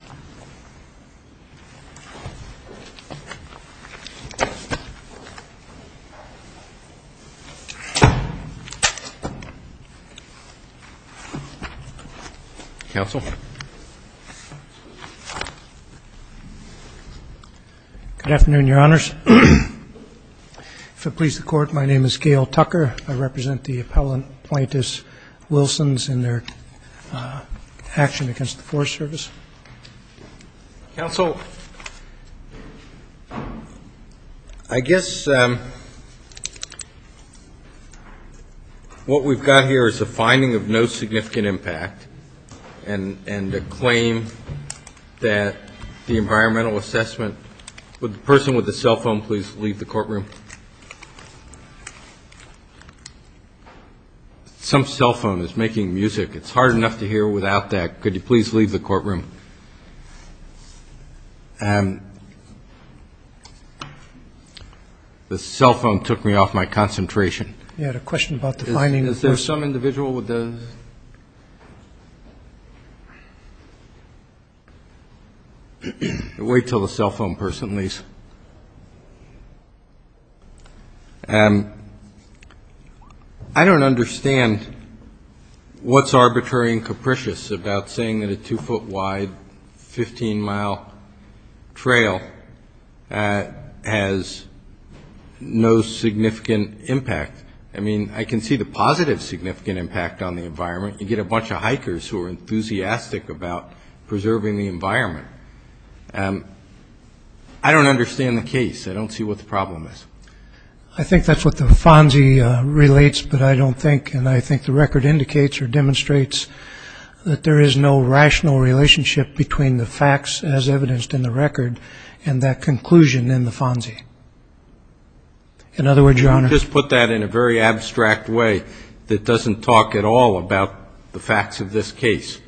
Good afternoon, Your Honors. If it pleases the Court, my name is Gail Tucker. I represent the appellant, Plaintiff's Wilsons, in their action against the Forest Service. Roberts Concerns Council, I guess what we've got here is a finding of no significant impact and a claim that the environmental assessment, would the person with the cell phone is making music. It's hard enough to hear without that. Could you please leave the courtroom? The cell phone took me off my concentration. I don't understand what's arbitrary and capricious about saying that a two-foot-wide, 15-mile trail has no significant impact. I mean, I can see the positive significant impact on the environment. You get a bunch of hikers who are enthusiastic about preserving the environment. I don't understand the case. I don't see what the problem is. I think that's what the FONSI relates, but I don't think, and I think the record indicates or demonstrates that there is no rational relationship between the facts as evidenced in the record and that conclusion in the FONSI. In other words, Your Honor. Could you just put that in a very abstract way that doesn't talk at all about the facts of this case?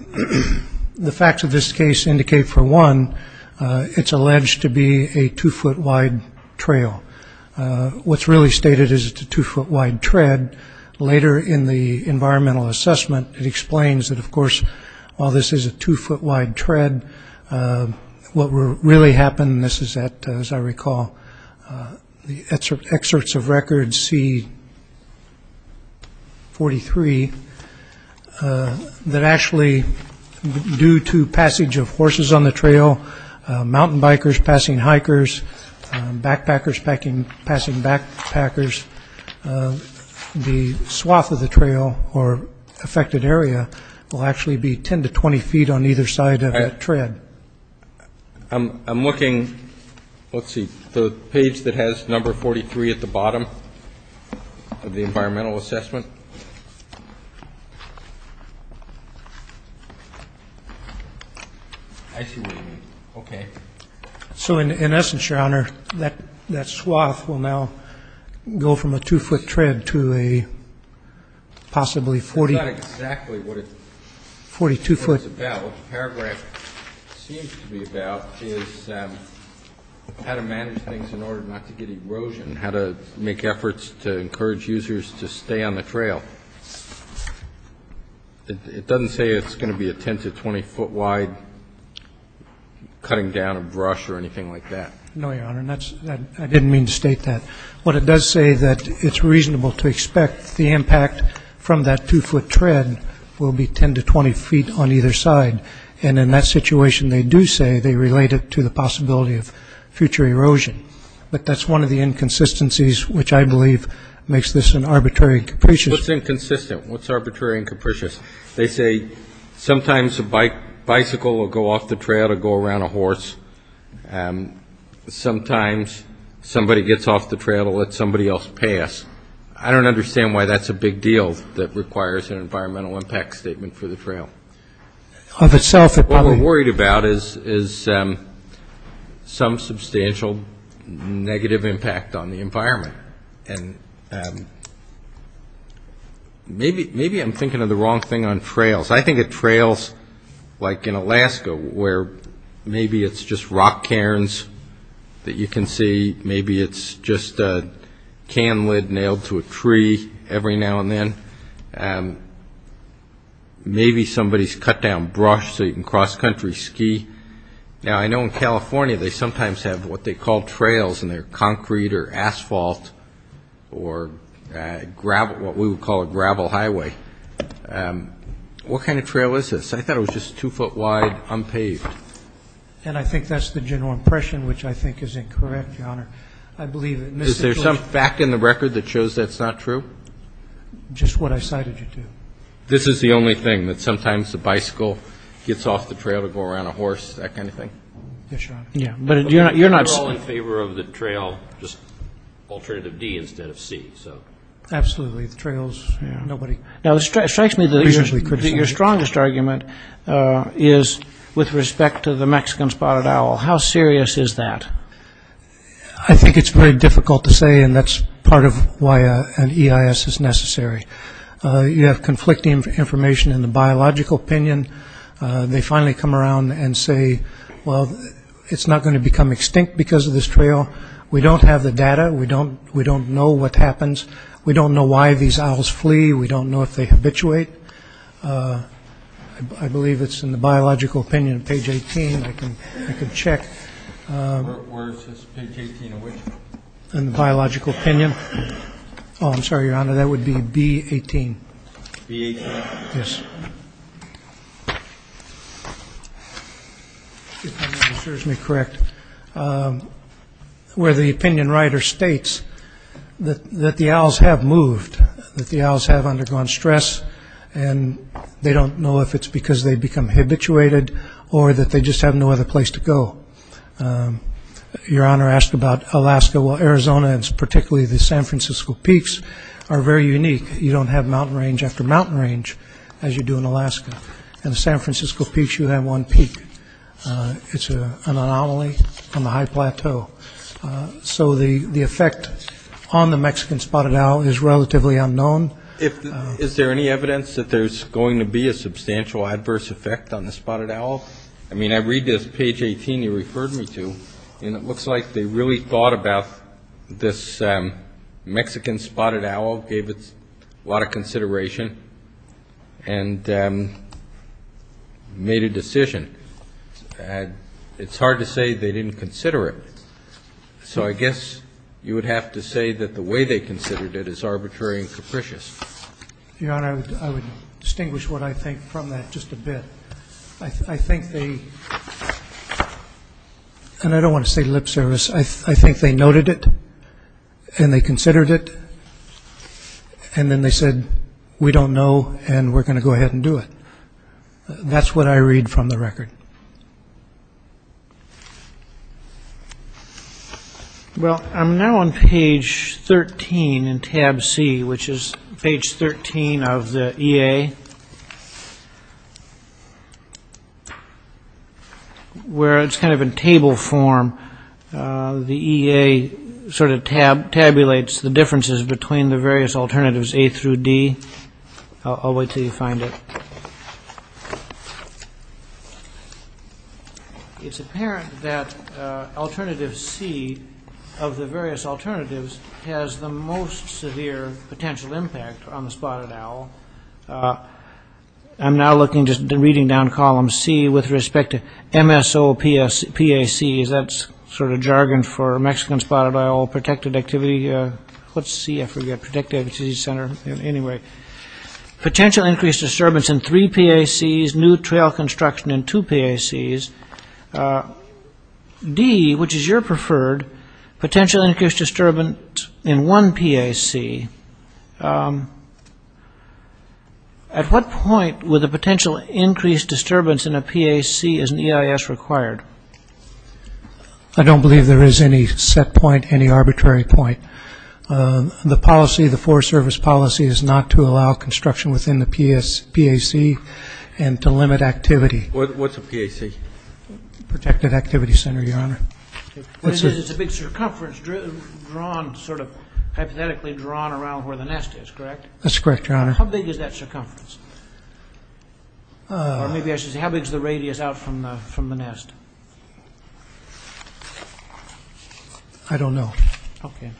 The facts of this case indicate, for one, it's alleged to be a two-foot-wide trail. What's really stated is it's a two-foot-wide tread. Later in the environmental assessment, it explains that, of course, while this is a two-foot-wide tread, what really happened, this is at, as I recall, the excerpts of record C-43, that actually, due to passage of horses on the trail, mountain bikers passing hikers, backpackers passing backpackers, the swath of the trail or affected area will actually be 10 to 20 feet on either side of that tread. I'm looking, let's see, the page that has number 43 at the bottom of the environmental assessment. I see what you mean. Okay. So, in essence, Your Honor, that swath will now go from a two-foot tread to a possibly 40... That's not exactly what it's about. 42-foot. What the paragraph seems to be about is how to manage things in order not to get erosion, how to make efforts to encourage users to stay on the trail. It doesn't say it's going to be a 10 to 20-foot-wide cutting down a brush or anything like that. No, Your Honor. I didn't mean to state that. What it does say is that it's reasonable to expect the impact from that two-foot tread will be 10 to 20 feet on either side. And in that situation, they do say they That's one of the inconsistencies which I believe makes this an arbitrary and capricious... What's inconsistent? What's arbitrary and capricious? They say sometimes a bicycle will go off the trail to go around a horse. Sometimes somebody gets off the trail to let somebody else pass. I don't understand why that's a big deal that requires an environmental impact statement for the trail. Of itself... What we're worried about is some substantial negative impact on the environment. And maybe I'm thinking of the wrong thing on trails. I think of trails like in Alaska where maybe it's just rock cairns that you can see. Maybe it's just a can lid nailed to a tree every now and then. Maybe somebody's cut down brush so you can cross country ski. Now, I know in California they sometimes have what they call trails and they're concrete or asphalt or gravel, what we would call a gravel highway. What kind of trail is this? I thought it was just two-foot wide unpaved. And I think that's the general impression which I think is incorrect, Your Honor. I believe... Is there some fact in the record that shows that's not true? Just what I cited you to. This is the only thing, that sometimes the bicycle gets off the trail to go around a horse, that kind of thing? Yes, Your Honor. But you're not... We're all in favor of the trail, just alternative D instead of C, so... Absolutely, the trails, nobody... Now, it strikes me that your strongest argument is with respect to the Mexican spotted owl. How serious is that? I think it's very difficult to say and that's part of why an EIS is necessary. You have conflicting information in the biological opinion. They finally come around and say, well, it's not going to become extinct because of this trail. We don't have the data. We don't know what happens. We don't know why these owls I believe it's in the biological opinion, page 18. I can check. Where is this? Page 18 of which? In the biological opinion. Oh, I'm sorry, Your Honor, that would be B-18. B-18? Yes. If my memory serves me correct. Where the opinion writer states that the owls have moved, that the owls have undergone stress and they don't know if it's because they become habituated or that they just have no other place to go. Your Honor asked about Alaska. Well, Arizona and particularly the San Francisco peaks are very unique. You don't have mountain range after mountain range as you do in Alaska. The effect on the Mexican spotted owl is relatively unknown. Is there any evidence that there's going to be a substantial adverse effect on the spotted owl? I mean, I read this page 18 you referred me to and it looks like they really thought about this Mexican spotted owl, gave it a lot of consideration and made a decision. It's hard to say they didn't consider it. So I guess you would have to say that the way they considered it is arbitrary and capricious. Your Honor, I would distinguish what I think from that just a bit. I think they, and I don't want to say lip service, I think they noted it and they considered it and then they said we don't know and we're going to go ahead and do it. That's what I read from the record. Well, I'm now on page 13 in tab C, which is page 13 of the EA, where it's kind of in table form. The EA sort of tabulates the It's apparent that alternative C of the various alternatives has the most severe potential impact on the spotted owl. I'm now looking, just reading down column C with respect to MSOPACs, that's sort of jargon for Mexican spotted owl protected activity, what's C, I forget, anyway. Potential increased disturbance in three PACs, new trail construction in two PACs. D, which is your preferred, potential increased disturbance in one PAC. At what point would the potential increased disturbance in a PAC as an EIS required? I don't believe there is any set point. The policy, the Forest Service policy is not to allow construction within the PAC and to limit activity. What's a PAC? Protected Activity Center, Your Honor. It's a big circumference drawn, sort of hypothetically drawn around where the nest is, correct? That's correct, Your Honor. How big is that circumference? Or maybe I should say, how big is the radius out from the nest? I don't know. Okay.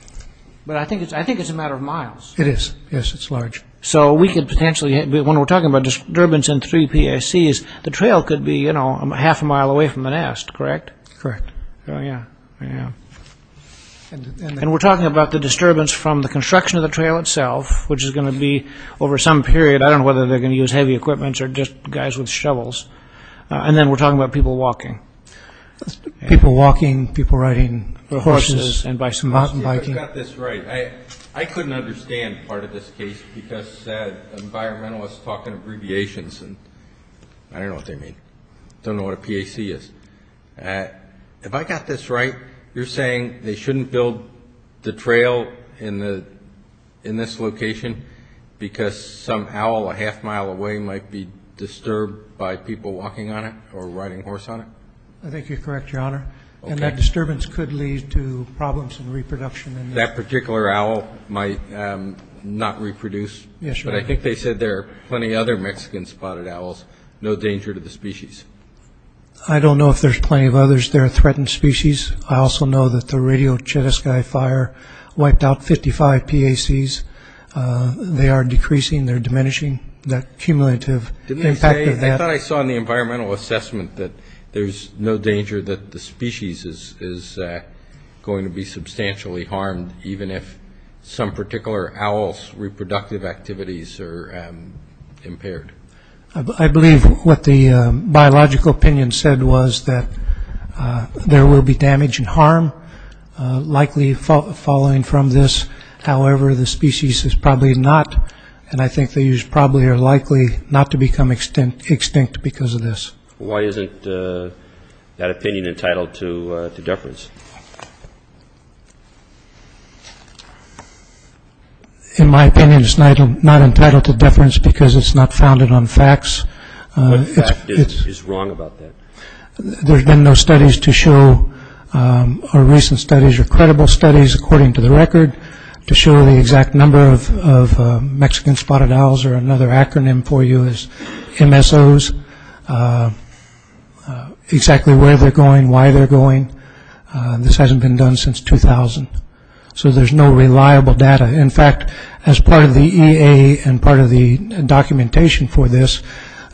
But I think it's a matter of miles. It is, yes, it's large. So we could potentially, when we're talking about disturbance in three PACs, the trail could be, you know, half a mile away from the nest, correct? Correct. And we're talking about the disturbance from the construction of the trail itself, which is going to be over some period, I don't know whether they're going to use heavy equipment or just guys with shovels. And then we're talking about people walking. People walking, people riding horses and by some mountain biking. I couldn't understand part of this case because environmentalists talk in abbreviations and I don't know what they mean. I don't know what a PAC is. If I got this right, you're saying they shouldn't build the trail in this location because some owl a half mile away might be disturbed by people walking on it or riding horse on it? I think you're correct, Your Honor. And that disturbance could lead to problems in reproduction. That particular owl might not reproduce? Yes, Your Honor. But I think they said there are plenty of other Mexican spotted owls, no danger to the species. I don't know if there's plenty of others. They're a threatened species. I also know that the Radio Chetescai fire wiped out 55 PACs. They are decreasing, they're diminishing, that cumulative impact of that. Didn't they say, I thought I saw in the environmental assessment that there's no danger that the species is going to be substantially harmed even if some particular owl's reproductive activities are impaired. I believe what the biological opinion said was that there will be damage and harm likely following from this. However, the species is probably not and I think they probably are likely not to become extinct because of this. Why isn't that opinion entitled to deference? In my opinion, it's not entitled to deference because it's not founded on facts. What fact is wrong about that? There's been no studies to show, or recent studies or credible studies according to the record, to show the exact number of Mexican spotted owls or another acronym for you is MSOs, exactly where they're going, why they're going. This hasn't been done since 2000. So there's no reliable data. In fact, as part of the EA and part of the documentation for this,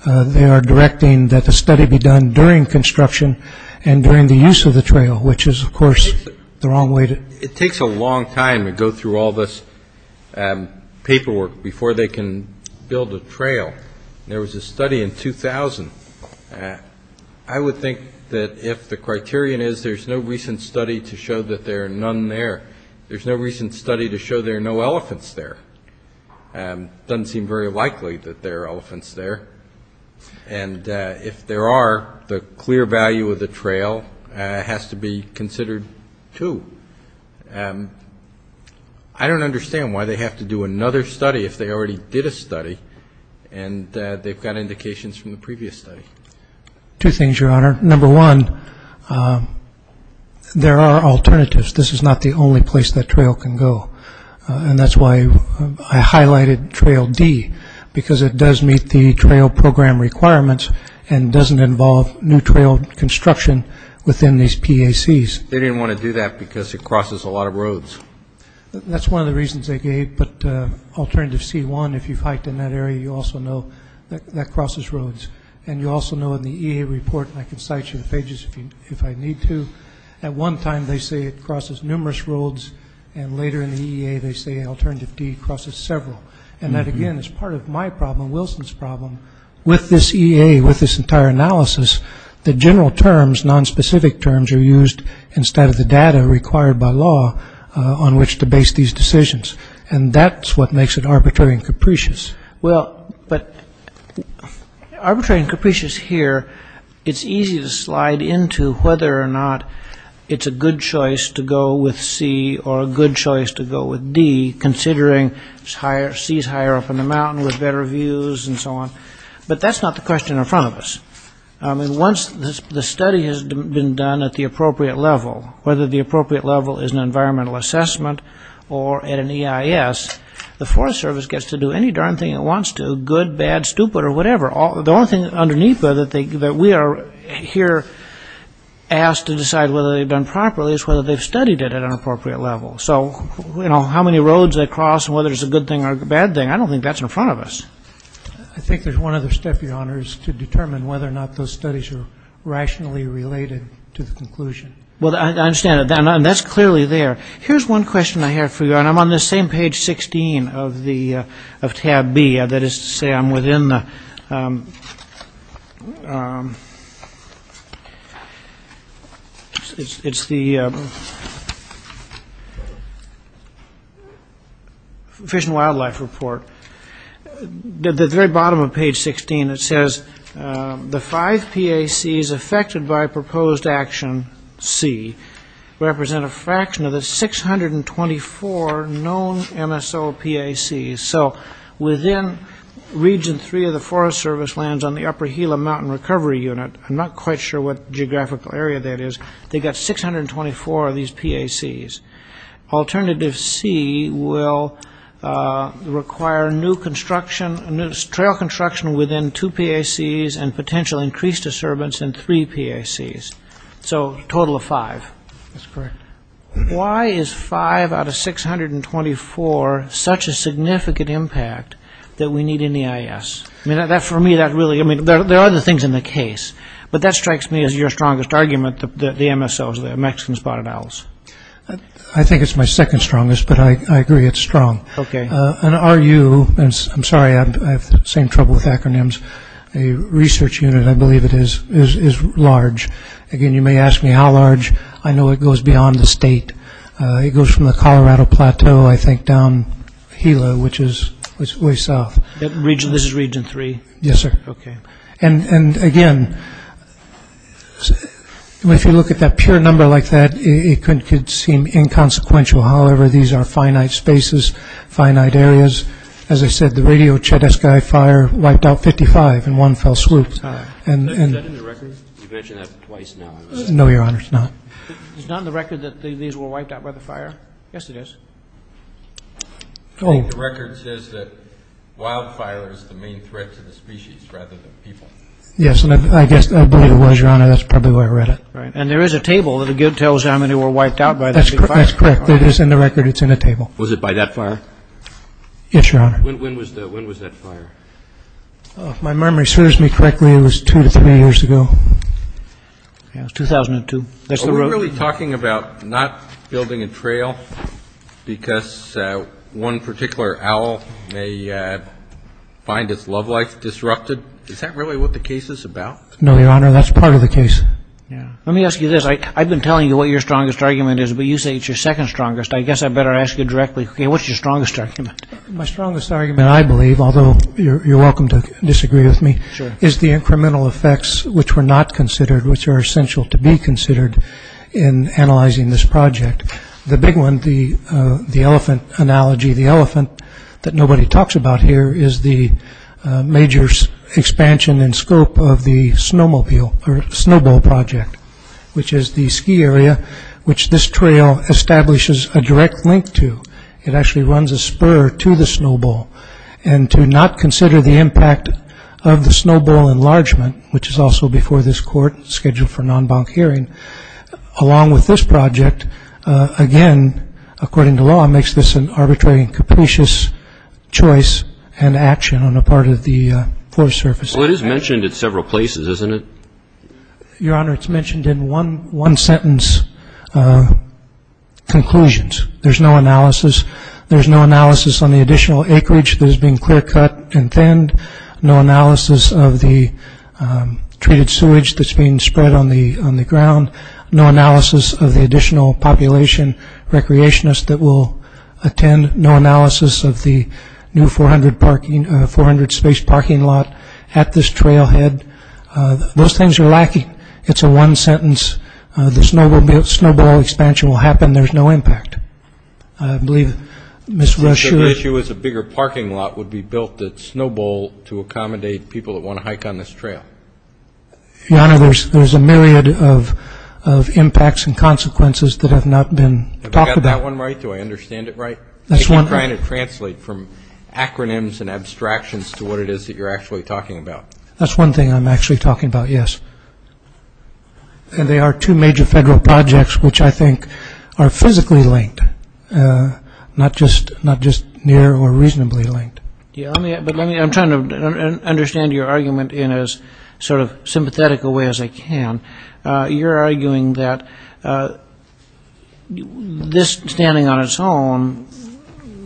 they are directing that the study be done during construction and during the use of the trail, which is, of course, the wrong way to... It takes a long time to go through all this paperwork before they can build a trail. There was a study in 2000. I would think that if the criterion is there's no recent study to show that there are none there, there's no recent study to show there are no elephants there. It doesn't seem very likely that there are elephants there. And if there are, the clear value of the trail has to be considered too. I don't understand why they have to do another study if they already did a study and they've got indications from the previous study. Two things, Your Honor. Number one, there are alternatives. This is not the only place that trail can go. And that's why I highlighted Trail D, because it does meet the trail program requirements and doesn't involve new trail construction within these PACs. They didn't want to do that because it crosses a lot of roads. That's one of the reasons they gave, but alternative C1, if you've hiked in that area, you also know that crosses roads. And you also know in the EA report, and I can cite you the pages if I need to, at one time they say it crosses numerous roads and later in the EA they say alternative D crosses several. And that again is part of my problem, Wilson's problem. With this EA, with this entire analysis, the general terms, nonspecific terms are used instead of the data required by law on which to base these decisions. And that's what makes it arbitrary and capricious. Well, but arbitrary and capricious here, it's easy to slide into whether or not it's a good choice to go with C or a good choice to go with D, considering C's higher up in the mountain with better views and so on. But that's not the question in front of us. I mean, once the study has been done at the appropriate level, whether the appropriate level is an environmental assessment or at an EIS, the Forest Service gets to do any darn thing it wants to, good, bad, stupid, or whatever. The only thing underneath that we are here asked to decide whether they've done properly is whether they've studied it at an appropriate level. So, you know, how many roads they cross and whether it's a good thing or a bad thing, I don't think that's in front of us. I think there's one other step, Your Honors, to determine whether or not those studies are rationally related to the conclusion. Well, I understand that, and that's clearly there. Here's one question I have for you, and I'm on this same page 16 of tab B, that is to say I'm within the Fish and Wildlife Report. At the very bottom of page 16, it says the five PACs affected by proposed action C represent a fraction of the 624 known MSO PACs. So within Region 3 of the Forest Service lands on the Upper Gila Mountain Recovery Unit, I'm not quite sure what geographical area that is, they've got 624 of these PACs. Alternative C will require new construction, trail construction within two PACs and potential increased disturbance in three PACs. So a total of five. That's correct. Why is five out of 624 such a significant impact that we need in EIS? I mean, for me, that really, I mean, there are other things in the case, but that strikes me as your strongest argument that the MSOs, the Mexican spotted owls. I think it's my second strongest, but I agree it's strong. And RU, I'm sorry, I have the same trouble with acronyms, a research unit, I believe it is, is large. Again, you may ask me how large, I know it goes beyond the state. It goes from the Colorado Plateau, I think, down Gila, which is way south. This is Region 3? Yes, sir. Okay. And again, if you look at that pure number like that, it could seem inconsequential. However, these are finite spaces, finite areas. As I said, the Radio Chedisky fire wiped out 55 in one fell swoop. Is that in the record? You've mentioned that twice now. No, Your Honor, it's not. It's not in the record that these were wiped out by the fire? Yes, it is. The record says that wildfire is the main threat to the species rather than people. Yes, and I guess I believe it was, Your Honor. That's probably why I read it. Right. And there is a table that tells how many were wiped out by that big fire. That's correct. It is in the record. It's in the table. Was it by that fire? Yes, Your Honor. When was that fire? If my memory serves me correctly, it was two to three years ago. It was 2002. We're really talking about not building a trail because one particular owl may find its love life disrupted? Is that really what the case is about? No, Your Honor, that's part of the case. Let me ask you this. I've been telling you what your strongest argument is, but you say it's your second strongest. I guess I better ask you directly. What's your strongest argument? My strongest argument, I believe, although you're welcome to disagree with me, is the incremental effects, which were not considered, which are essential to be considered in analyzing this project. The big one, the elephant analogy, the elephant that nobody talks about here, is the major expansion and scope of the snowmobile or snowball project, which is the ski area which this trail establishes a direct link to. It actually runs a spur to the snowball. And to not consider the impact of the snowball enlargement, which is also before this court, scheduled for non-bank hearing, along with this project, again, according to law, makes this an arbitrary and capricious choice and action on the part of the Forest Service. Well, it is mentioned in several places, isn't it? Your Honor, it's mentioned in one sentence conclusions. There's no analysis. There's no analysis on the additional acreage that is being clear cut and thinned. No analysis of the treated sewage that's being spread on the ground. No analysis of the additional population recreationists that will attend. No analysis of the new 400 space parking lot at this trailhead. Those things are lacking. It's a one sentence. The snowball expansion will happen. There's no impact. I believe Ms. Rush... The issue is a bigger parking lot would be built at Snowbowl to accommodate people that want to hike on this trail. Your Honor, there's a myriad of impacts and consequences that have not been talked about. Have I got that one right? Do I understand it right? That's one... I keep trying to translate from acronyms and abstractions to what it is that you're actually talking about. That's one thing I'm actually talking about, yes. There are two major federal projects which I think are physically linked, not just near or reasonably linked. I'm trying to understand your argument in as sort of sympathetic a way as I can. You're arguing that this standing on its own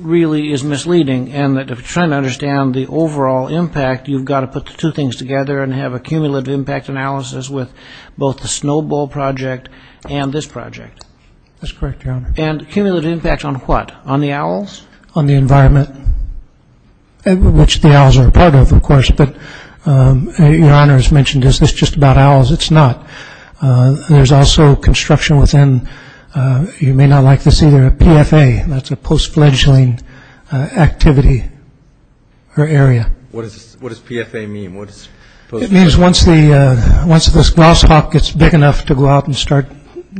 really is misleading and that if you're trying to understand the overall impact, you've got to put the two things together and have a cumulative impact analysis with both the Snowbowl project and this project. That's correct, Your Honor. And cumulative impact on what? On the owls? On the environment, which the owls are a part of, of course. But Your Honor has mentioned, is this just about owls? It's not. There's also construction within, you may not like this either, a PFA. That's a post-fledgling activity or area. What does PFA mean? It means once this glass hawk gets big enough to go out and start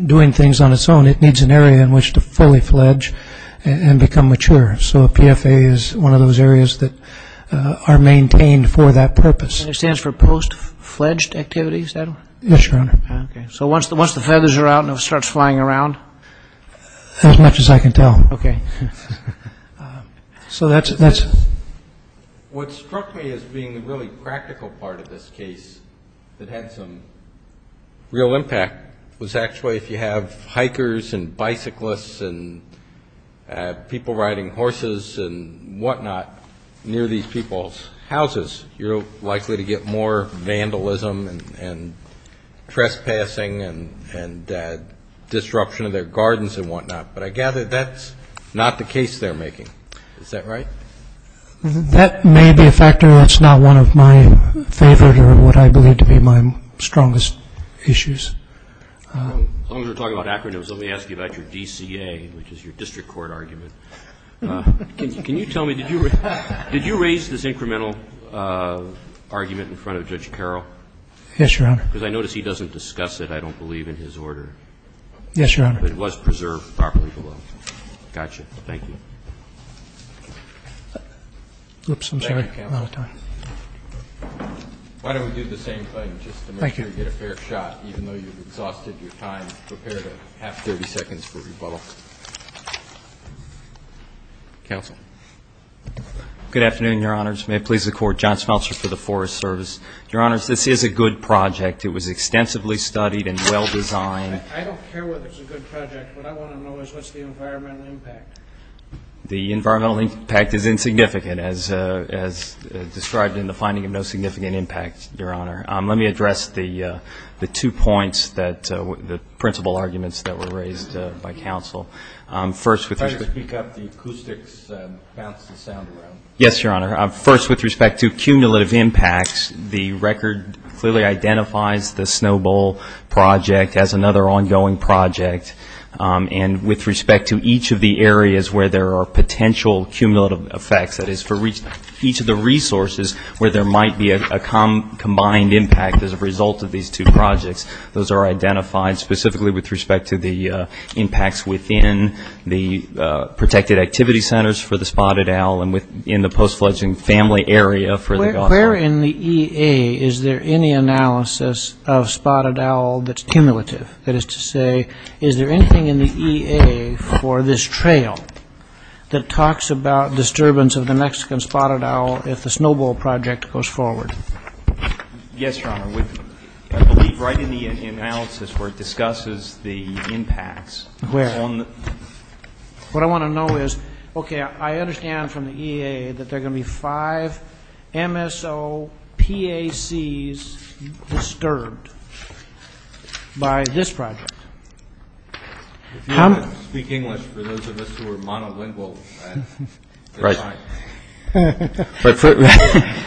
doing things on its own, it needs an area in which to fully fledge and become mature. So a PFA is one of those areas that are maintained for that purpose. And it stands for post-fledged activities? Yes, Your Honor. So once the feathers are out and it starts flying around? As much as I can tell. Okay. So that's... What struck me as being the really practical part of this case that had some real impact was actually if you have hikers and bicyclists and people riding horses and whatnot near these people's houses, you're likely to get more vandalism and trespassing and disruption of their gardens and whatnot. But I gather that's not the case they're making. Is that right? That may be a factor that's not one of my favorite or what I believe to be my strongest issues. As long as we're talking about acronyms, let me ask you about your DCA, which is your district court argument. Can you tell me, did you raise this incremental argument in front of Judge Carroll? Yes, Your Honor. Because I notice he doesn't discuss it, I don't believe, in his order. Yes, Your Honor. But it was preserved properly below. Gotcha. Thank you. Oops, I'm sorry. A lot of time. Why don't we do the same thing just to make sure you get a fair shot, even though you've exhausted your time, prepared a half-thirty seconds for rebuttal. Counsel. Good afternoon, Your Honors. May it please the Court. John Smeltzer for the Forest Service. Your Honors, this is a good project. It was extensively studied and well-designed. I don't care whether it's a good project. What I want to know is what's the environmental impact? The environmental impact is insignificant, as described in the finding of no significant impact, Your Honor. Let me address the two points, the principal arguments that were raised by counsel. First, with respect to Try to speak up. The acoustics bounce the sound around. Yes, Your Honor. First, with respect to cumulative impacts, the record clearly identifies the Snow Bowl project as another ongoing project. And with respect to each of the areas where there are potential cumulative effects, that is, for each of the resources where there might be a combined impact as a result of these two projects, those are identified specifically with respect to the impacts within the protected activity centers for the spotted owl and in the post-fledgling family area for the god owl. Where in the EA is there any analysis of spotted owl that's cumulative? That is to say, is there anything in the EA for this trail that talks about disturbance of the Mexican spotted owl if the Snow Bowl project goes forward? Yes, Your Honor. I believe right in the analysis where it discusses the impacts. Where? What I want to know is, okay, I understand from the EA that there are going to be five MSOPACs disturbed by this project. If you want to speak English for those of us who are monolingual, that's fine. Right.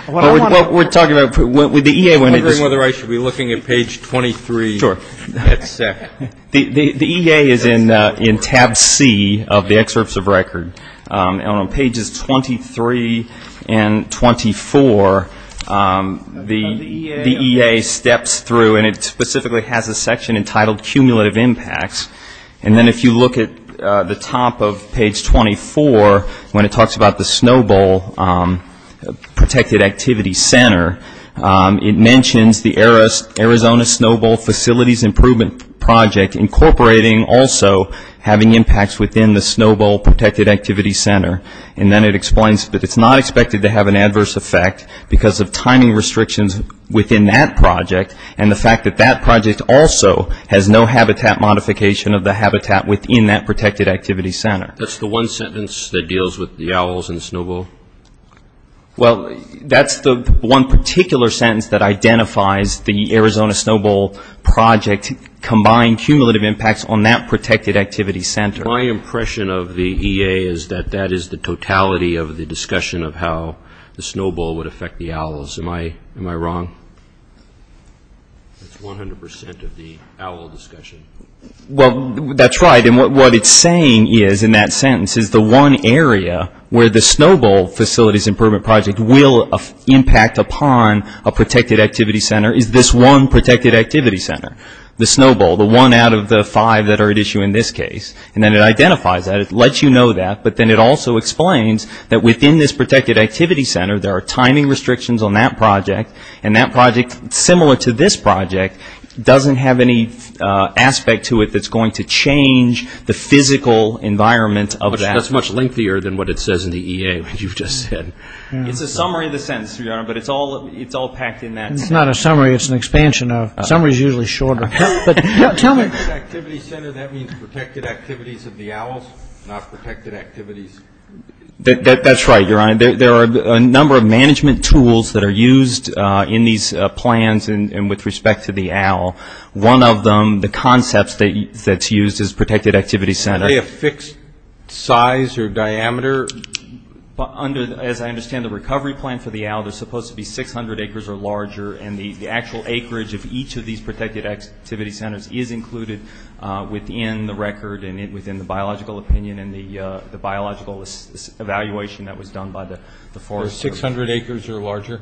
What we're talking about, the EA went into this. I'm wondering whether I should be looking at page 23. Sure. The EA is in tab C of the excerpts of record. On pages 23 and 24, the EA steps through and it specifically has a section entitled cumulative impacts. And then if you look at the top of page 24, when it talks about the Snow Bowl protected activity center, it mentions the Arizona Snow Bowl facilities improvement project incorporating also having impacts within the Snow Bowl protected activity center. And then it explains that it's not expected to have an adverse effect because of timing restrictions within that project and the fact that that project also has no habitat modification of the habitat within that protected activity center. That's the one sentence that deals with the owls and the Snow Bowl? Well, that's the one particular sentence that identifies the Arizona Snow Bowl project combined cumulative impacts on that protected activity center. My impression of the EA is that that is the totality of the discussion of how the Snow Bowl would affect the owls. Am I wrong? That's 100 percent of the owl discussion. Well, that's right. And what it's saying is in that sentence is the one area where the Snow Bowl facilities improvement project will impact upon a protected activity center is this one protected activity center, the Snow Bowl, the one out of the five that are at issue in this case. And then it identifies that. It lets you know that. But then it also explains that within this protected activity center, there are timing restrictions on that project. And that project, similar to this project, doesn't have any aspect to it that's going to change the physical environment of that. That's much lengthier than what it says in the EA that you've just said. It's a summary of the sentence, Your Honor, but it's all packed in that sentence. It's not a summary. It's an expansion of it. Summary is usually shorter. Tell me. Protected activity center, that means protected activities of the owls, not protected activities. That's right, Your Honor. There are a number of management tools that are used in these plans and with respect to the owl. One of them, the concepts that's used is protected activity center. Are they a fixed size or diameter? As I understand, the recovery plan for the owl, they're supposed to be 600 acres or larger, and the actual acreage of each of these protected activity centers is included within the record and within the biological opinion and the biological evaluation that was done by the Forest Service. They're 600 acres or larger?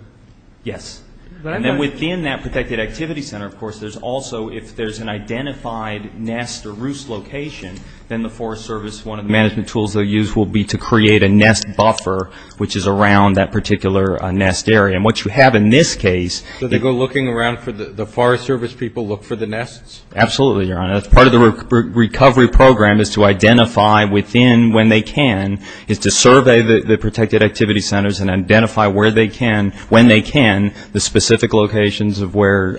Yes. And then within that protected activity center, of course, there's also, if there's an identified nest or roost location, then the Forest Service, one of the management tools they'll use will be to create a nest buffer, which is around that particular nest area. And what you have in this case – So they go looking around for the – the Forest Service people look for the nests? Absolutely, Your Honor. Part of the recovery program is to identify within, when they can, is to survey the protected activity centers and identify where they can, when they can, the specific locations of where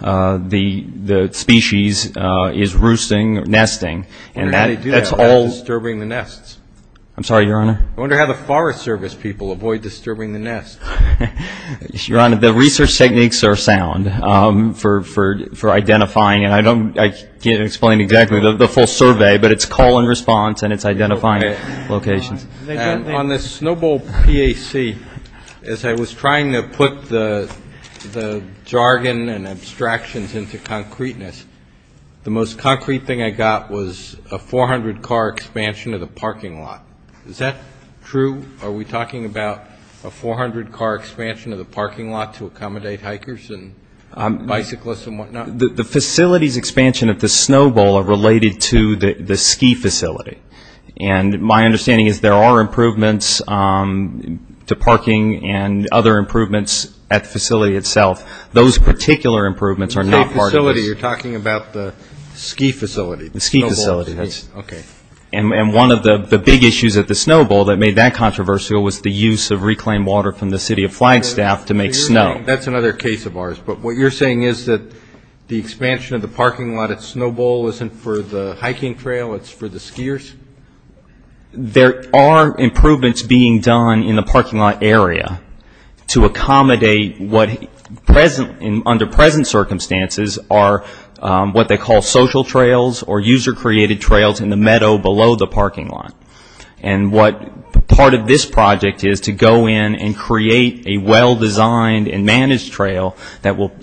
the species is roosting or nesting. I wonder how they do that without disturbing the nests. I'm sorry, Your Honor? I wonder how the Forest Service people avoid disturbing the nests. Your Honor, the research techniques are sound for identifying. And I don't – I can't explain exactly the full survey, but it's call and response and it's identifying locations. And on the Snow Bowl PAC, as I was trying to put the jargon and abstractions into concreteness, the most concrete thing I got was a 400-car expansion of the parking lot. Is that true? Are we talking about a 400-car expansion of the parking lot to accommodate hikers and bicyclists and whatnot? The facilities expansion at the Snow Bowl are related to the ski facility. And my understanding is there are improvements to parking and other improvements at the facility itself. Those particular improvements are not part of this. The ski facility. You're talking about the ski facility. The ski facility. Okay. And one of the big issues at the Snow Bowl that made that controversial was the use of reclaimed water from the City of Flagstaff to make snow. That's another case of ours. But what you're saying is that the expansion of the parking lot at Snow Bowl isn't for the hiking trail, it's for the skiers? There are improvements being done in the parking lot area to accommodate what, under present circumstances, are what they call social trails or user-created trails in the meadow below the parking lot. And what part of this project is to go in and create a well-designed and managed trail that will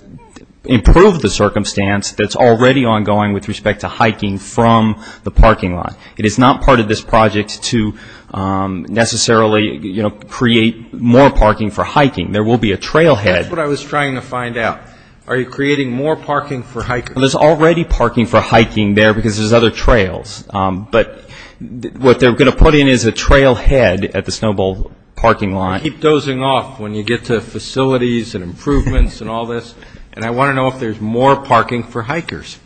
improve the circumstance that's already ongoing with respect to hiking from the parking lot? It is not part of this project to necessarily create more parking for hiking. There will be a trailhead. That's what I was trying to find out. Are you creating more parking for hikers? There's already parking for hiking there because there's other trails. But what they're going to put in is a trailhead at the Snow Bowl parking lot. I keep dozing off when you get to facilities and improvements and all this, and I want to know if there's more parking for hikers.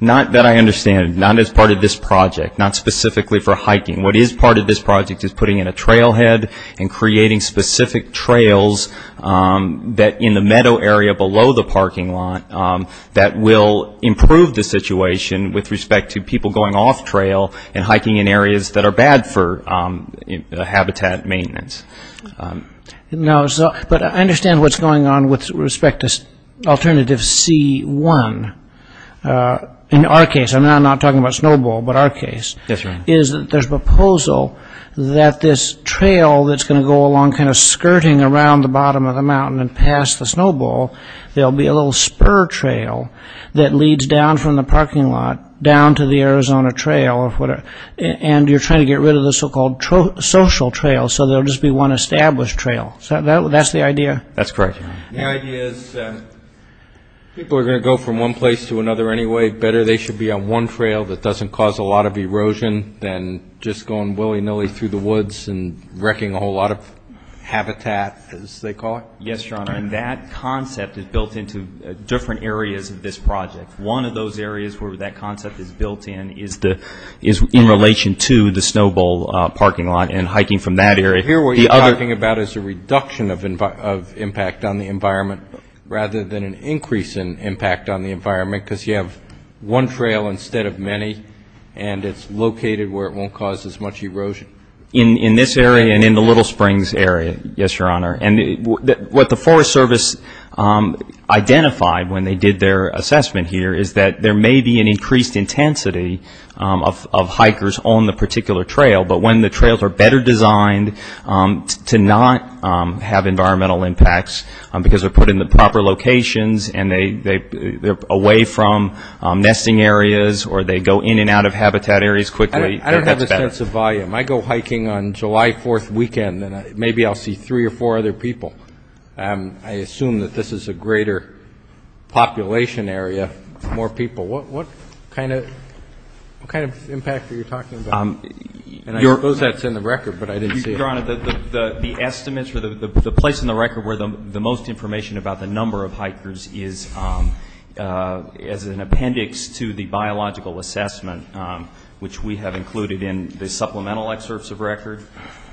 Not that I understand. Not as part of this project, not specifically for hiking. What is part of this project is putting in a trailhead and creating specific trails that in the meadow area below the parking lot that will improve the situation with respect to people going off-trail and hiking in areas that are bad for habitat maintenance. No, but I understand what's going on with respect to Alternative C-1. In our case, I'm not talking about Snow Bowl, but our case, is that there's a proposal that this trail that's going to go along kind of skirting around the bottom of the mountain and past the Snow Bowl, there'll be a little spur trail that leads down from the parking lot down to the Arizona Trail. And you're trying to get rid of the so-called social trail so there'll just be one established trail. That's the idea? That's correct. The idea is people are going to go from one place to another anyway. Better they should be on one trail that doesn't cause a lot of erosion than just going willy-nilly through the woods and wrecking a whole lot of habitat, as they call it. Yes, Your Honor, and that concept is built into different areas of this project. One of those areas where that concept is built in is in relation to the Snow Bowl parking lot and hiking from that area. Here what you're talking about is a reduction of impact on the environment rather than an increase in impact on the environment because you have one trail instead of many, and it's located where it won't cause as much erosion. In this area and in the Little Springs area, yes, Your Honor. And what the Forest Service identified when they did their assessment here is that there may be an increased intensity of hikers on the particular trail, but when the trails are better designed to not have environmental impacts because they're put in the proper locations and they're away from nesting areas or they go in and out of habitat areas quickly, that's better. I don't have a sense of volume. I go hiking on July 4th weekend, and maybe I'll see three or four other people. I assume that this is a greater population area, more people. What kind of impact are you talking about? I suppose that's in the record, but I didn't see it. Your Honor, the estimates for the place in the record where the most information about the number of hikers is as an appendix to the biological assessment, which we have included in the supplemental excerpts of record.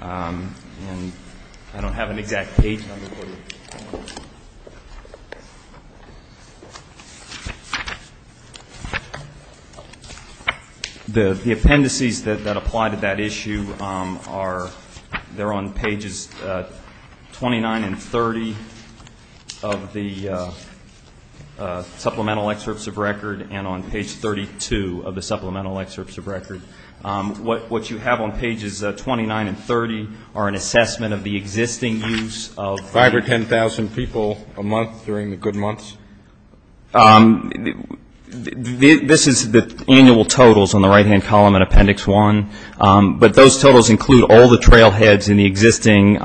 I don't have an exact page number for you. The appendices that apply to that issue are there on pages 29 and 30 of the supplemental excerpts of record and on page 32 of the supplemental excerpts of record. What you have on pages 29 and 30 are an assessment of the existing use of- Five or 10,000 people a month during the good months? This is the annual totals on the right-hand column in Appendix 1, but those totals include all the trailheads in the existing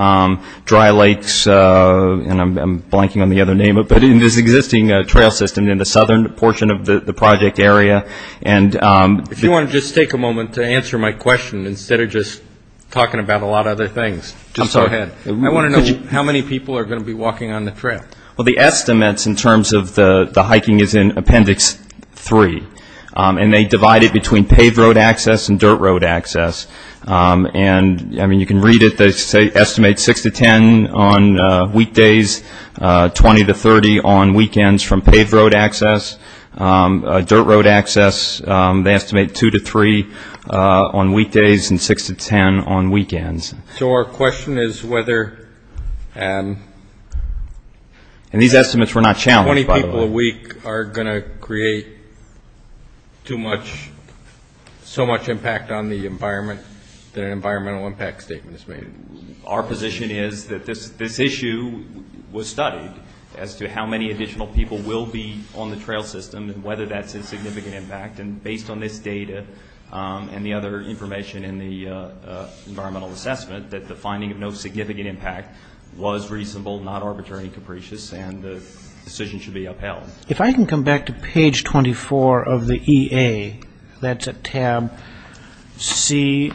dry lakes, and I'm blanking on the other name, but in this existing trail system in the southern portion of the project area. If you want to just take a moment to answer my question instead of just talking about a lot of other things, just go ahead. I want to know how many people are going to be walking on the trail. Well, the estimates in terms of the hiking is in Appendix 3, and they divide it between paved road access and dirt road access. I mean, you can read it. They estimate 6 to 10 on weekdays, 20 to 30 on weekends from paved road access. Dirt road access, they estimate 2 to 3 on weekdays and 6 to 10 on weekends. So our question is whether- And these estimates were not challenged, by the way. How many people a week are going to create so much impact on the environment that an environmental impact statement is made? Our position is that this issue was studied as to how many additional people will be on the trail system and whether that's a significant impact, and based on this data and the other information in the environmental assessment, that the finding of no significant impact was reasonable, not arbitrary and capricious, and the decision should be upheld. If I can come back to page 24 of the EA, that's at tab C,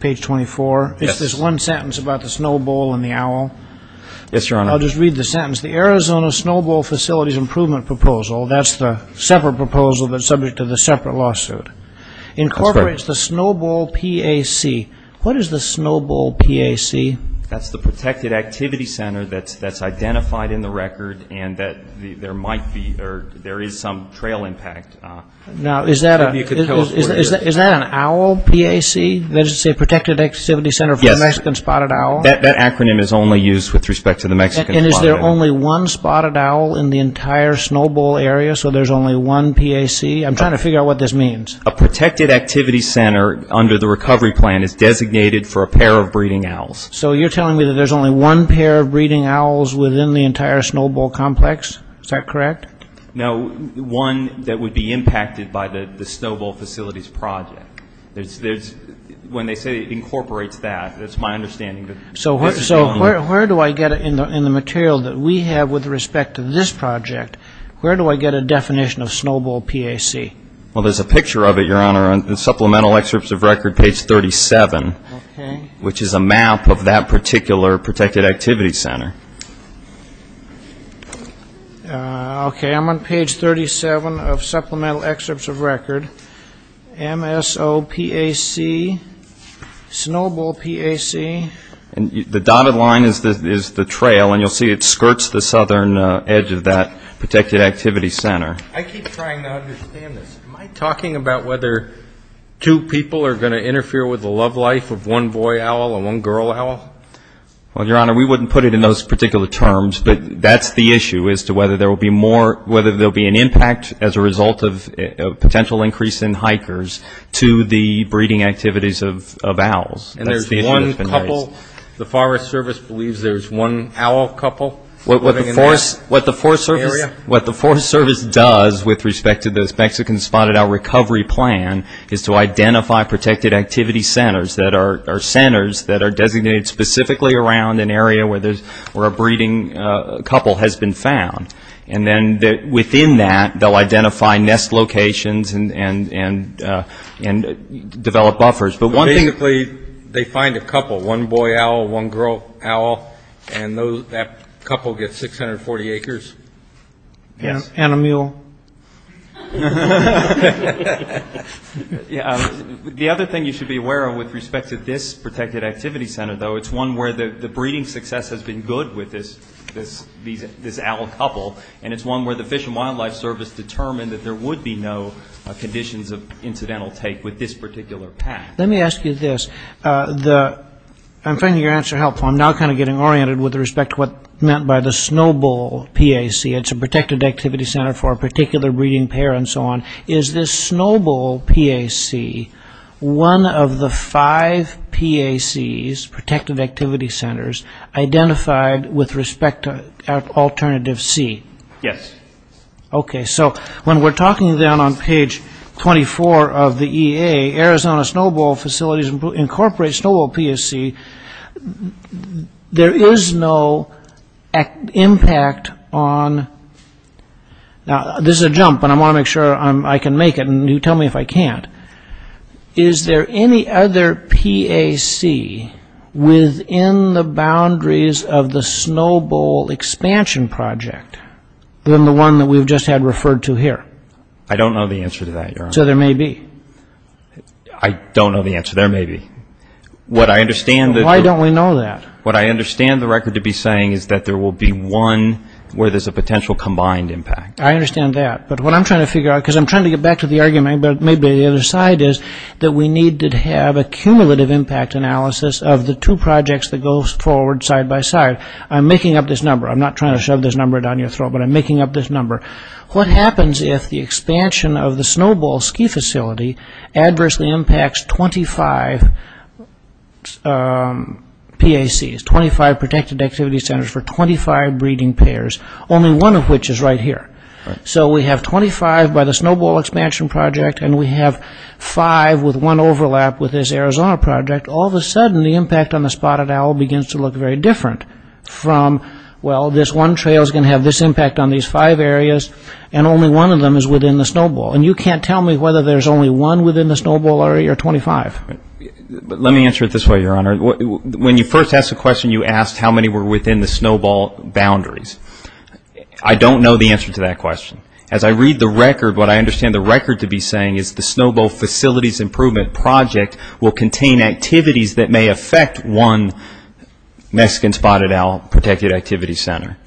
page 24. Yes. It's this one sentence about the snowball and the owl. Yes, Your Honor. I'll just read the sentence. The Arizona Snowball Facilities Improvement Proposal, that's the separate proposal that's subject to the separate lawsuit, incorporates the Snowball PAC. What is the Snowball PAC? That's the Protected Activity Center that's identified in the record and that there might be or there is some trail impact. Now, is that an owl PAC? Does it say Protected Activity Center for the Mexican Spotted Owl? Yes. That acronym is only used with respect to the Mexican Spotted Owl. And is there only one spotted owl in the entire Snowball area, so there's only one PAC? I'm trying to figure out what this means. A Protected Activity Center, under the recovery plan, is designated for a pair of breeding owls. So you're telling me that there's only one pair of breeding owls within the entire Snowball complex? Is that correct? No, one that would be impacted by the Snowball Facilities Project. When they say it incorporates that, that's my understanding. So where do I get it in the material that we have with respect to this project? Where do I get a definition of Snowball PAC? Well, there's a picture of it, Your Honor, on Supplemental Excerpts of Record, page 37, which is a map of that particular Protected Activity Center. Okay, I'm on page 37 of Supplemental Excerpts of Record, MSOPAC, Snowball PAC. The dotted line is the trail, and you'll see it skirts the southern edge of that Protected Activity Center. I keep trying to understand this. Am I talking about whether two people are going to interfere with the love life of one boy owl and one girl owl? Well, Your Honor, we wouldn't put it in those particular terms, but that's the issue as to whether there will be more – whether there will be an impact as a result of a potential increase in hikers to the breeding activities of owls. That's the issue that's been raised. And there's one couple – the Forest Service believes there's one owl couple living in that area? What the Forest Service does with respect to those Mexicans spotted, our recovery plan is to identify Protected Activity Centers that are centers that are designated specifically around an area where a breeding couple has been found. And then within that, they'll identify nest locations and develop buffers. But basically, they find a couple, one boy owl, one girl owl, and that couple gets 640 acres. And a mule. The other thing you should be aware of with respect to this Protected Activity Center, though, it's one where the breeding success has been good with this owl couple, and it's one where the Fish and Wildlife Service determined that there would be no conditions of incidental take with this particular pack. Let me ask you this. I'm finding your answer helpful. I'm now kind of getting oriented with respect to what's meant by the Snow Bowl PAC. It's a Protected Activity Center for a particular breeding pair and so on. Is this Snow Bowl PAC one of the five PACs, Protected Activity Centers, identified with respect to Alternative C? Yes. Okay. So when we're talking then on page 24 of the EA, Arizona Snow Bowl Facilities Incorporate Snow Bowl PAC, there is no impact on, now this is a jump, but I want to make sure I can make it, and you tell me if I can't. Is there any other PAC within the boundaries of the Snow Bowl Expansion Project than the one that we've just had referred to here? I don't know the answer to that, Your Honor. I don't know the answer. There may be. Why don't we know that? What I understand the record to be saying is that there will be one where there's a potential combined impact. I understand that, but what I'm trying to figure out, because I'm trying to get back to the argument, but maybe the other side is that we need to have a cumulative impact analysis of the two projects that go forward side by side. I'm making up this number. I'm not trying to shove this number down your throat, but I'm making up this number. What happens if the expansion of the Snow Bowl Ski Facility adversely impacts 25 PACs, 25 Protected Activity Centers for 25 breeding pairs, only one of which is right here. So we have 25 by the Snow Bowl Expansion Project, and we have five with one overlap with this Arizona project. All of a sudden, the impact on the Spotted Owl begins to look very different from, well, this one trail is going to have this impact on these five areas, and only one of them is within the Snow Bowl. And you can't tell me whether there's only one within the Snow Bowl or 25. Let me answer it this way, Your Honor. When you first asked the question, you asked how many were within the Snow Bowl boundaries. I don't know the answer to that question. As I read the record, what I understand the record to be saying is the Snow Bowl Facilities Improvement Project will contain activities that may affect one Mexican Spotted Owl Protected Activity Center.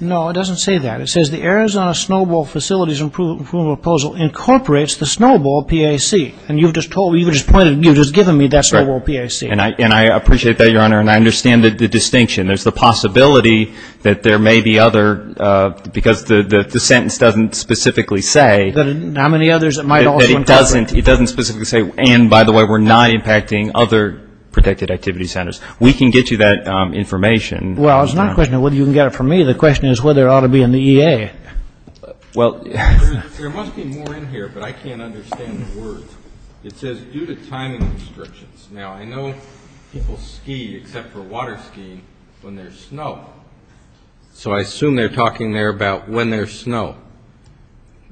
No, it doesn't say that. It says the Arizona Snow Bowl Facilities Improvement Proposal incorporates the Snow Bowl PAC. And you've just told me, you've just pointed, you've just given me that Snow Bowl PAC. And I appreciate that, Your Honor, and I understand the distinction. There's the possibility that there may be other, because the sentence doesn't specifically say. How many others it might also incorporate. It doesn't specifically say, and by the way, we're not impacting other protected activity centers. We can get you that information. Well, it's not a question of whether you can get it from me. The question is whether it ought to be in the EA. Well, there must be more in here, but I can't understand the words. It says due to timing restrictions. Now, I know people ski except for water skiing when there's snow. So I assume they're talking there about when there's snow.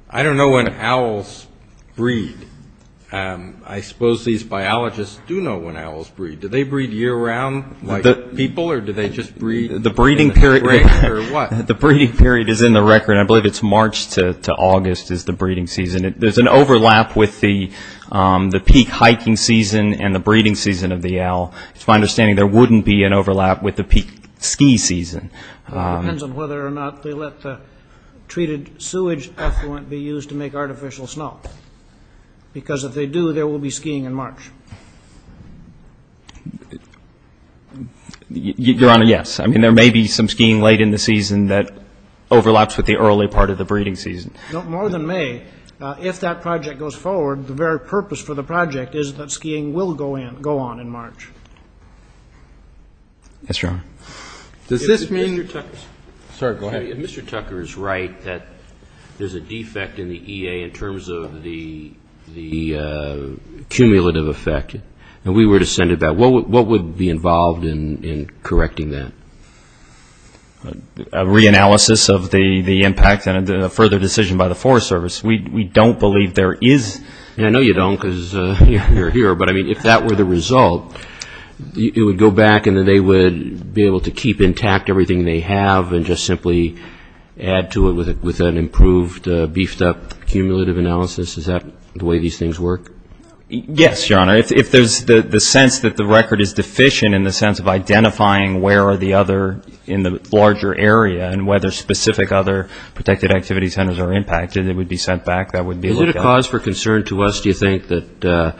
I don't know when owls breed. I suppose these biologists do know when owls breed. Do they breed year-round like people or do they just breed in the spring or what? The breeding period is in the record. I believe it's March to August is the breeding season. There's an overlap with the peak hiking season and the breeding season of the owl. It's my understanding there wouldn't be an overlap with the peak ski season. It depends on whether or not they let the treated sewage effluent be used to make artificial snow because if they do, there will be skiing in March. Your Honor, yes. I mean, there may be some skiing late in the season that overlaps with the early part of the breeding season. No, more than may. If that project goes forward, the very purpose for the project is that skiing will go on in March. Yes, Your Honor. Does this mean? Sorry, go ahead. If Mr. Tucker is right that there's a defect in the EA in terms of the cumulative effect, and we were to send it back, what would be involved in correcting that? A reanalysis of the impact and a further decision by the Forest Service. We don't believe there is, and I know you don't because you're here, but, I mean, if that were the result, it would go back and then they would be able to keep intact everything they have and just simply add to it with an improved beefed-up cumulative analysis? Is that the way these things work? Yes, Your Honor. If there's the sense that the record is deficient in the sense of identifying where are the other in the larger area and whether specific other protected activity centers are impacted, it would be sent back. Is it a cause for concern to us, do you think, that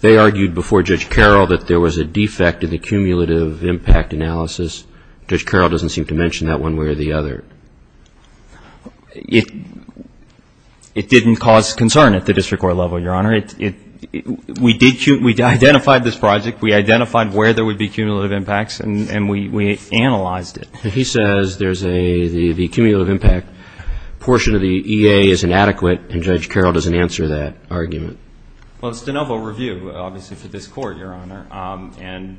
they argued before Judge Carroll that there was a defect in the cumulative impact analysis? Judge Carroll doesn't seem to mention that one way or the other. It didn't cause concern at the district court level, Your Honor. We identified this project. We identified where there would be cumulative impacts, and we analyzed it. He says there's the cumulative impact portion of the EA is inadequate, and Judge Carroll doesn't answer that argument. Well, it's de novo review, obviously, for this court, Your Honor, and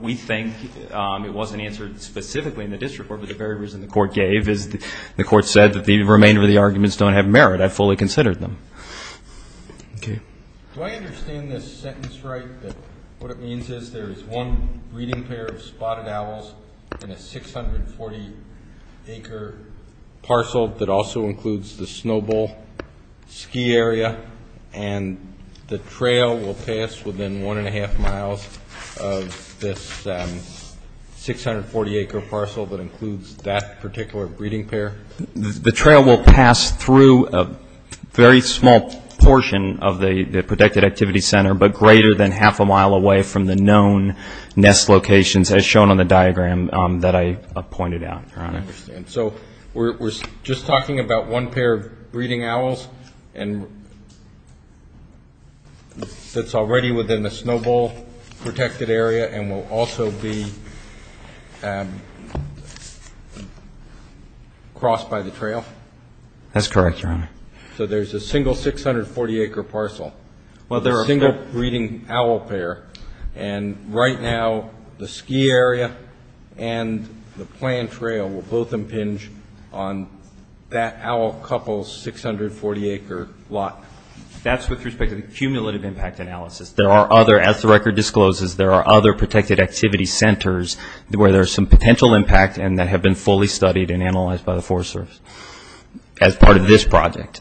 we think it wasn't answered specifically in the district court, but the very reason the court gave is the court said that the remainder of the arguments don't have merit. I fully considered them. Do I understand this sentence right, that what it means is there is one breeding pair of spotted owls in a 640-acre parcel that also includes the Snow Bowl ski area, and the trail will pass within one-and-a-half miles of this 640-acre parcel that includes that particular breeding pair? The trail will pass through a very small portion of the protected activity center but greater than half a mile away from the known nest locations as shown on the diagram that I pointed out, Your Honor. I understand. So we're just talking about one pair of breeding owls that's already within the Snow Bowl protected area and will also be crossed by the trail? That's correct, Your Honor. So there's a single 640-acre parcel. Well, they're a single breeding owl pair, and right now the ski area and the planned trail will both impinge on that owl couple's 640-acre lot. That's with respect to the cumulative impact analysis. There are other, as the record discloses, there are other protected activity centers where there's some potential impact and that have been fully studied and analyzed by the Forest Service as part of this project.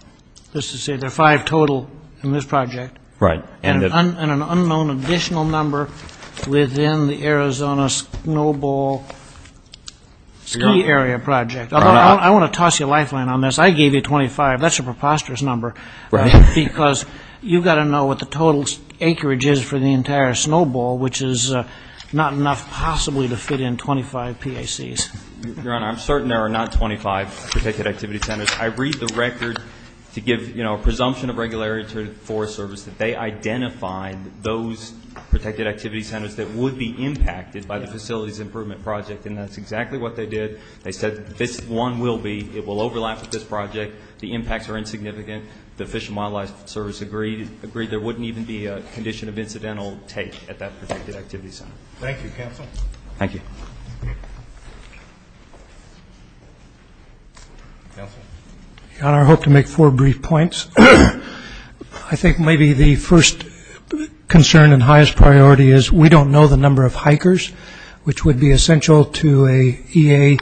Just to say there are five total in this project. Right. And an unknown additional number within the Arizona Snow Bowl ski area project. I want to toss you a lifeline on this. I gave you 25. That's a preposterous number because you've got to know what the total acreage is for the entire Snow Bowl, which is not enough possibly to fit in 25 PACs. Your Honor, I'm certain there are not 25 protected activity centers. I read the record to give, you know, a presumption of regularity to the Forest Service that they identified those protected activity centers that would be impacted by the facilities improvement project, and that's exactly what they did. They said this one will be. It will overlap with this project. The impacts are insignificant. The Fish and Wildlife Service agreed there wouldn't even be a condition of incidental take at that protected activity center. Thank you, counsel. Thank you. Counsel. Your Honor, I hope to make four brief points. I think maybe the first concern and highest priority is we don't know the number of hikers, which would be essential to a EA.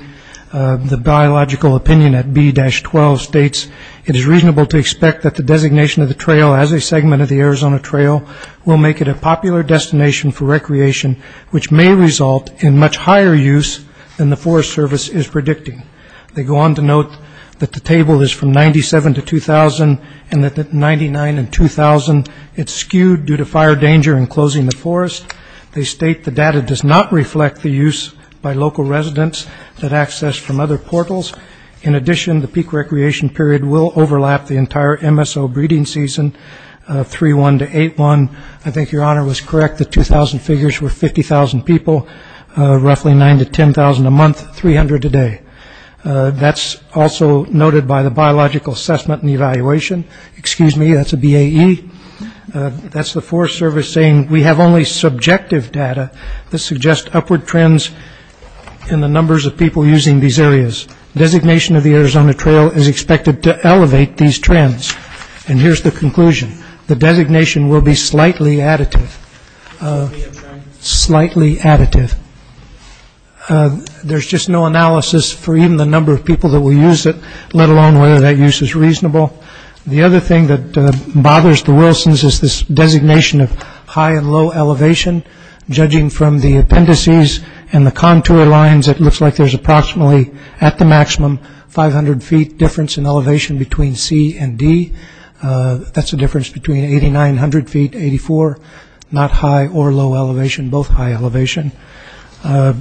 The biological opinion at B-12 states it is reasonable to expect that the designation of the trail as a segment of the Arizona Trail will make it a popular destination for recreation, which may result in much higher use than the Forest Service is predicting. They go on to note that the table is from 97 to 2,000, and that 99 and 2,000, it's skewed due to fire danger in closing the forest. They state the data does not reflect the use by local residents that access from other portals. In addition, the peak recreation period will overlap the entire MSO breeding season, 3-1 to 8-1. I think Your Honor was correct that 2,000 figures were 50,000 people, roughly 9 to 10,000 a month, 300 a day. That's also noted by the biological assessment and evaluation. Excuse me, that's a BAE. That's the Forest Service saying we have only subjective data that suggests upward trends in the numbers of people using these areas. Designation of the Arizona Trail is expected to elevate these trends. And here's the conclusion. The designation will be slightly additive, slightly additive. There's just no analysis for even the number of people that will use it, let alone whether that use is reasonable. The other thing that bothers the Wilsons is this designation of high and low elevation. Judging from the appendices and the contour lines, it looks like there's approximately at the maximum 500 feet difference in elevation between C and D. That's a difference between 8,900 feet, 84, not high or low elevation, both high elevation. I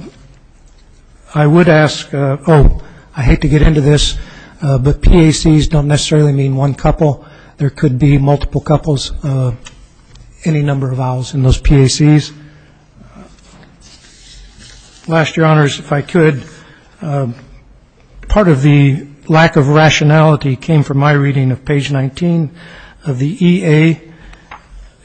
would ask, oh, I hate to get into this, but PACs don't necessarily mean one couple. There could be multiple couples, any number of vowels in those PACs. Last, Your Honors, if I could. Part of the lack of rationality came from my reading of page 19 of the EA.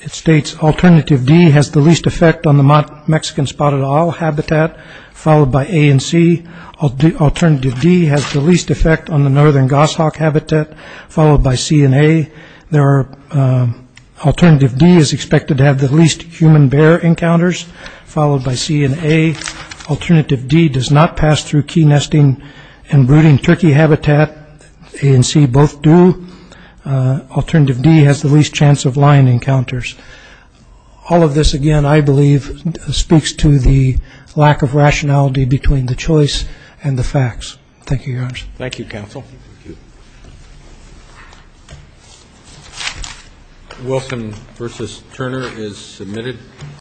It states alternative D has the least effect on the Mexican spotted owl habitat, followed by A and C. Alternative D has the least effect on the northern goshawk habitat, followed by C and A. Alternative D is expected to have the least human bear encounters, followed by C and A. Alternative D does not pass through key nesting and brooding turkey habitat. A and C both do. Alternative D has the least chance of lion encounters. All of this, again, I believe speaks to the lack of rationality between the choice and the facts. Thank you, Your Honors. Thank you, counsel. Wilson v. Turner is submitted.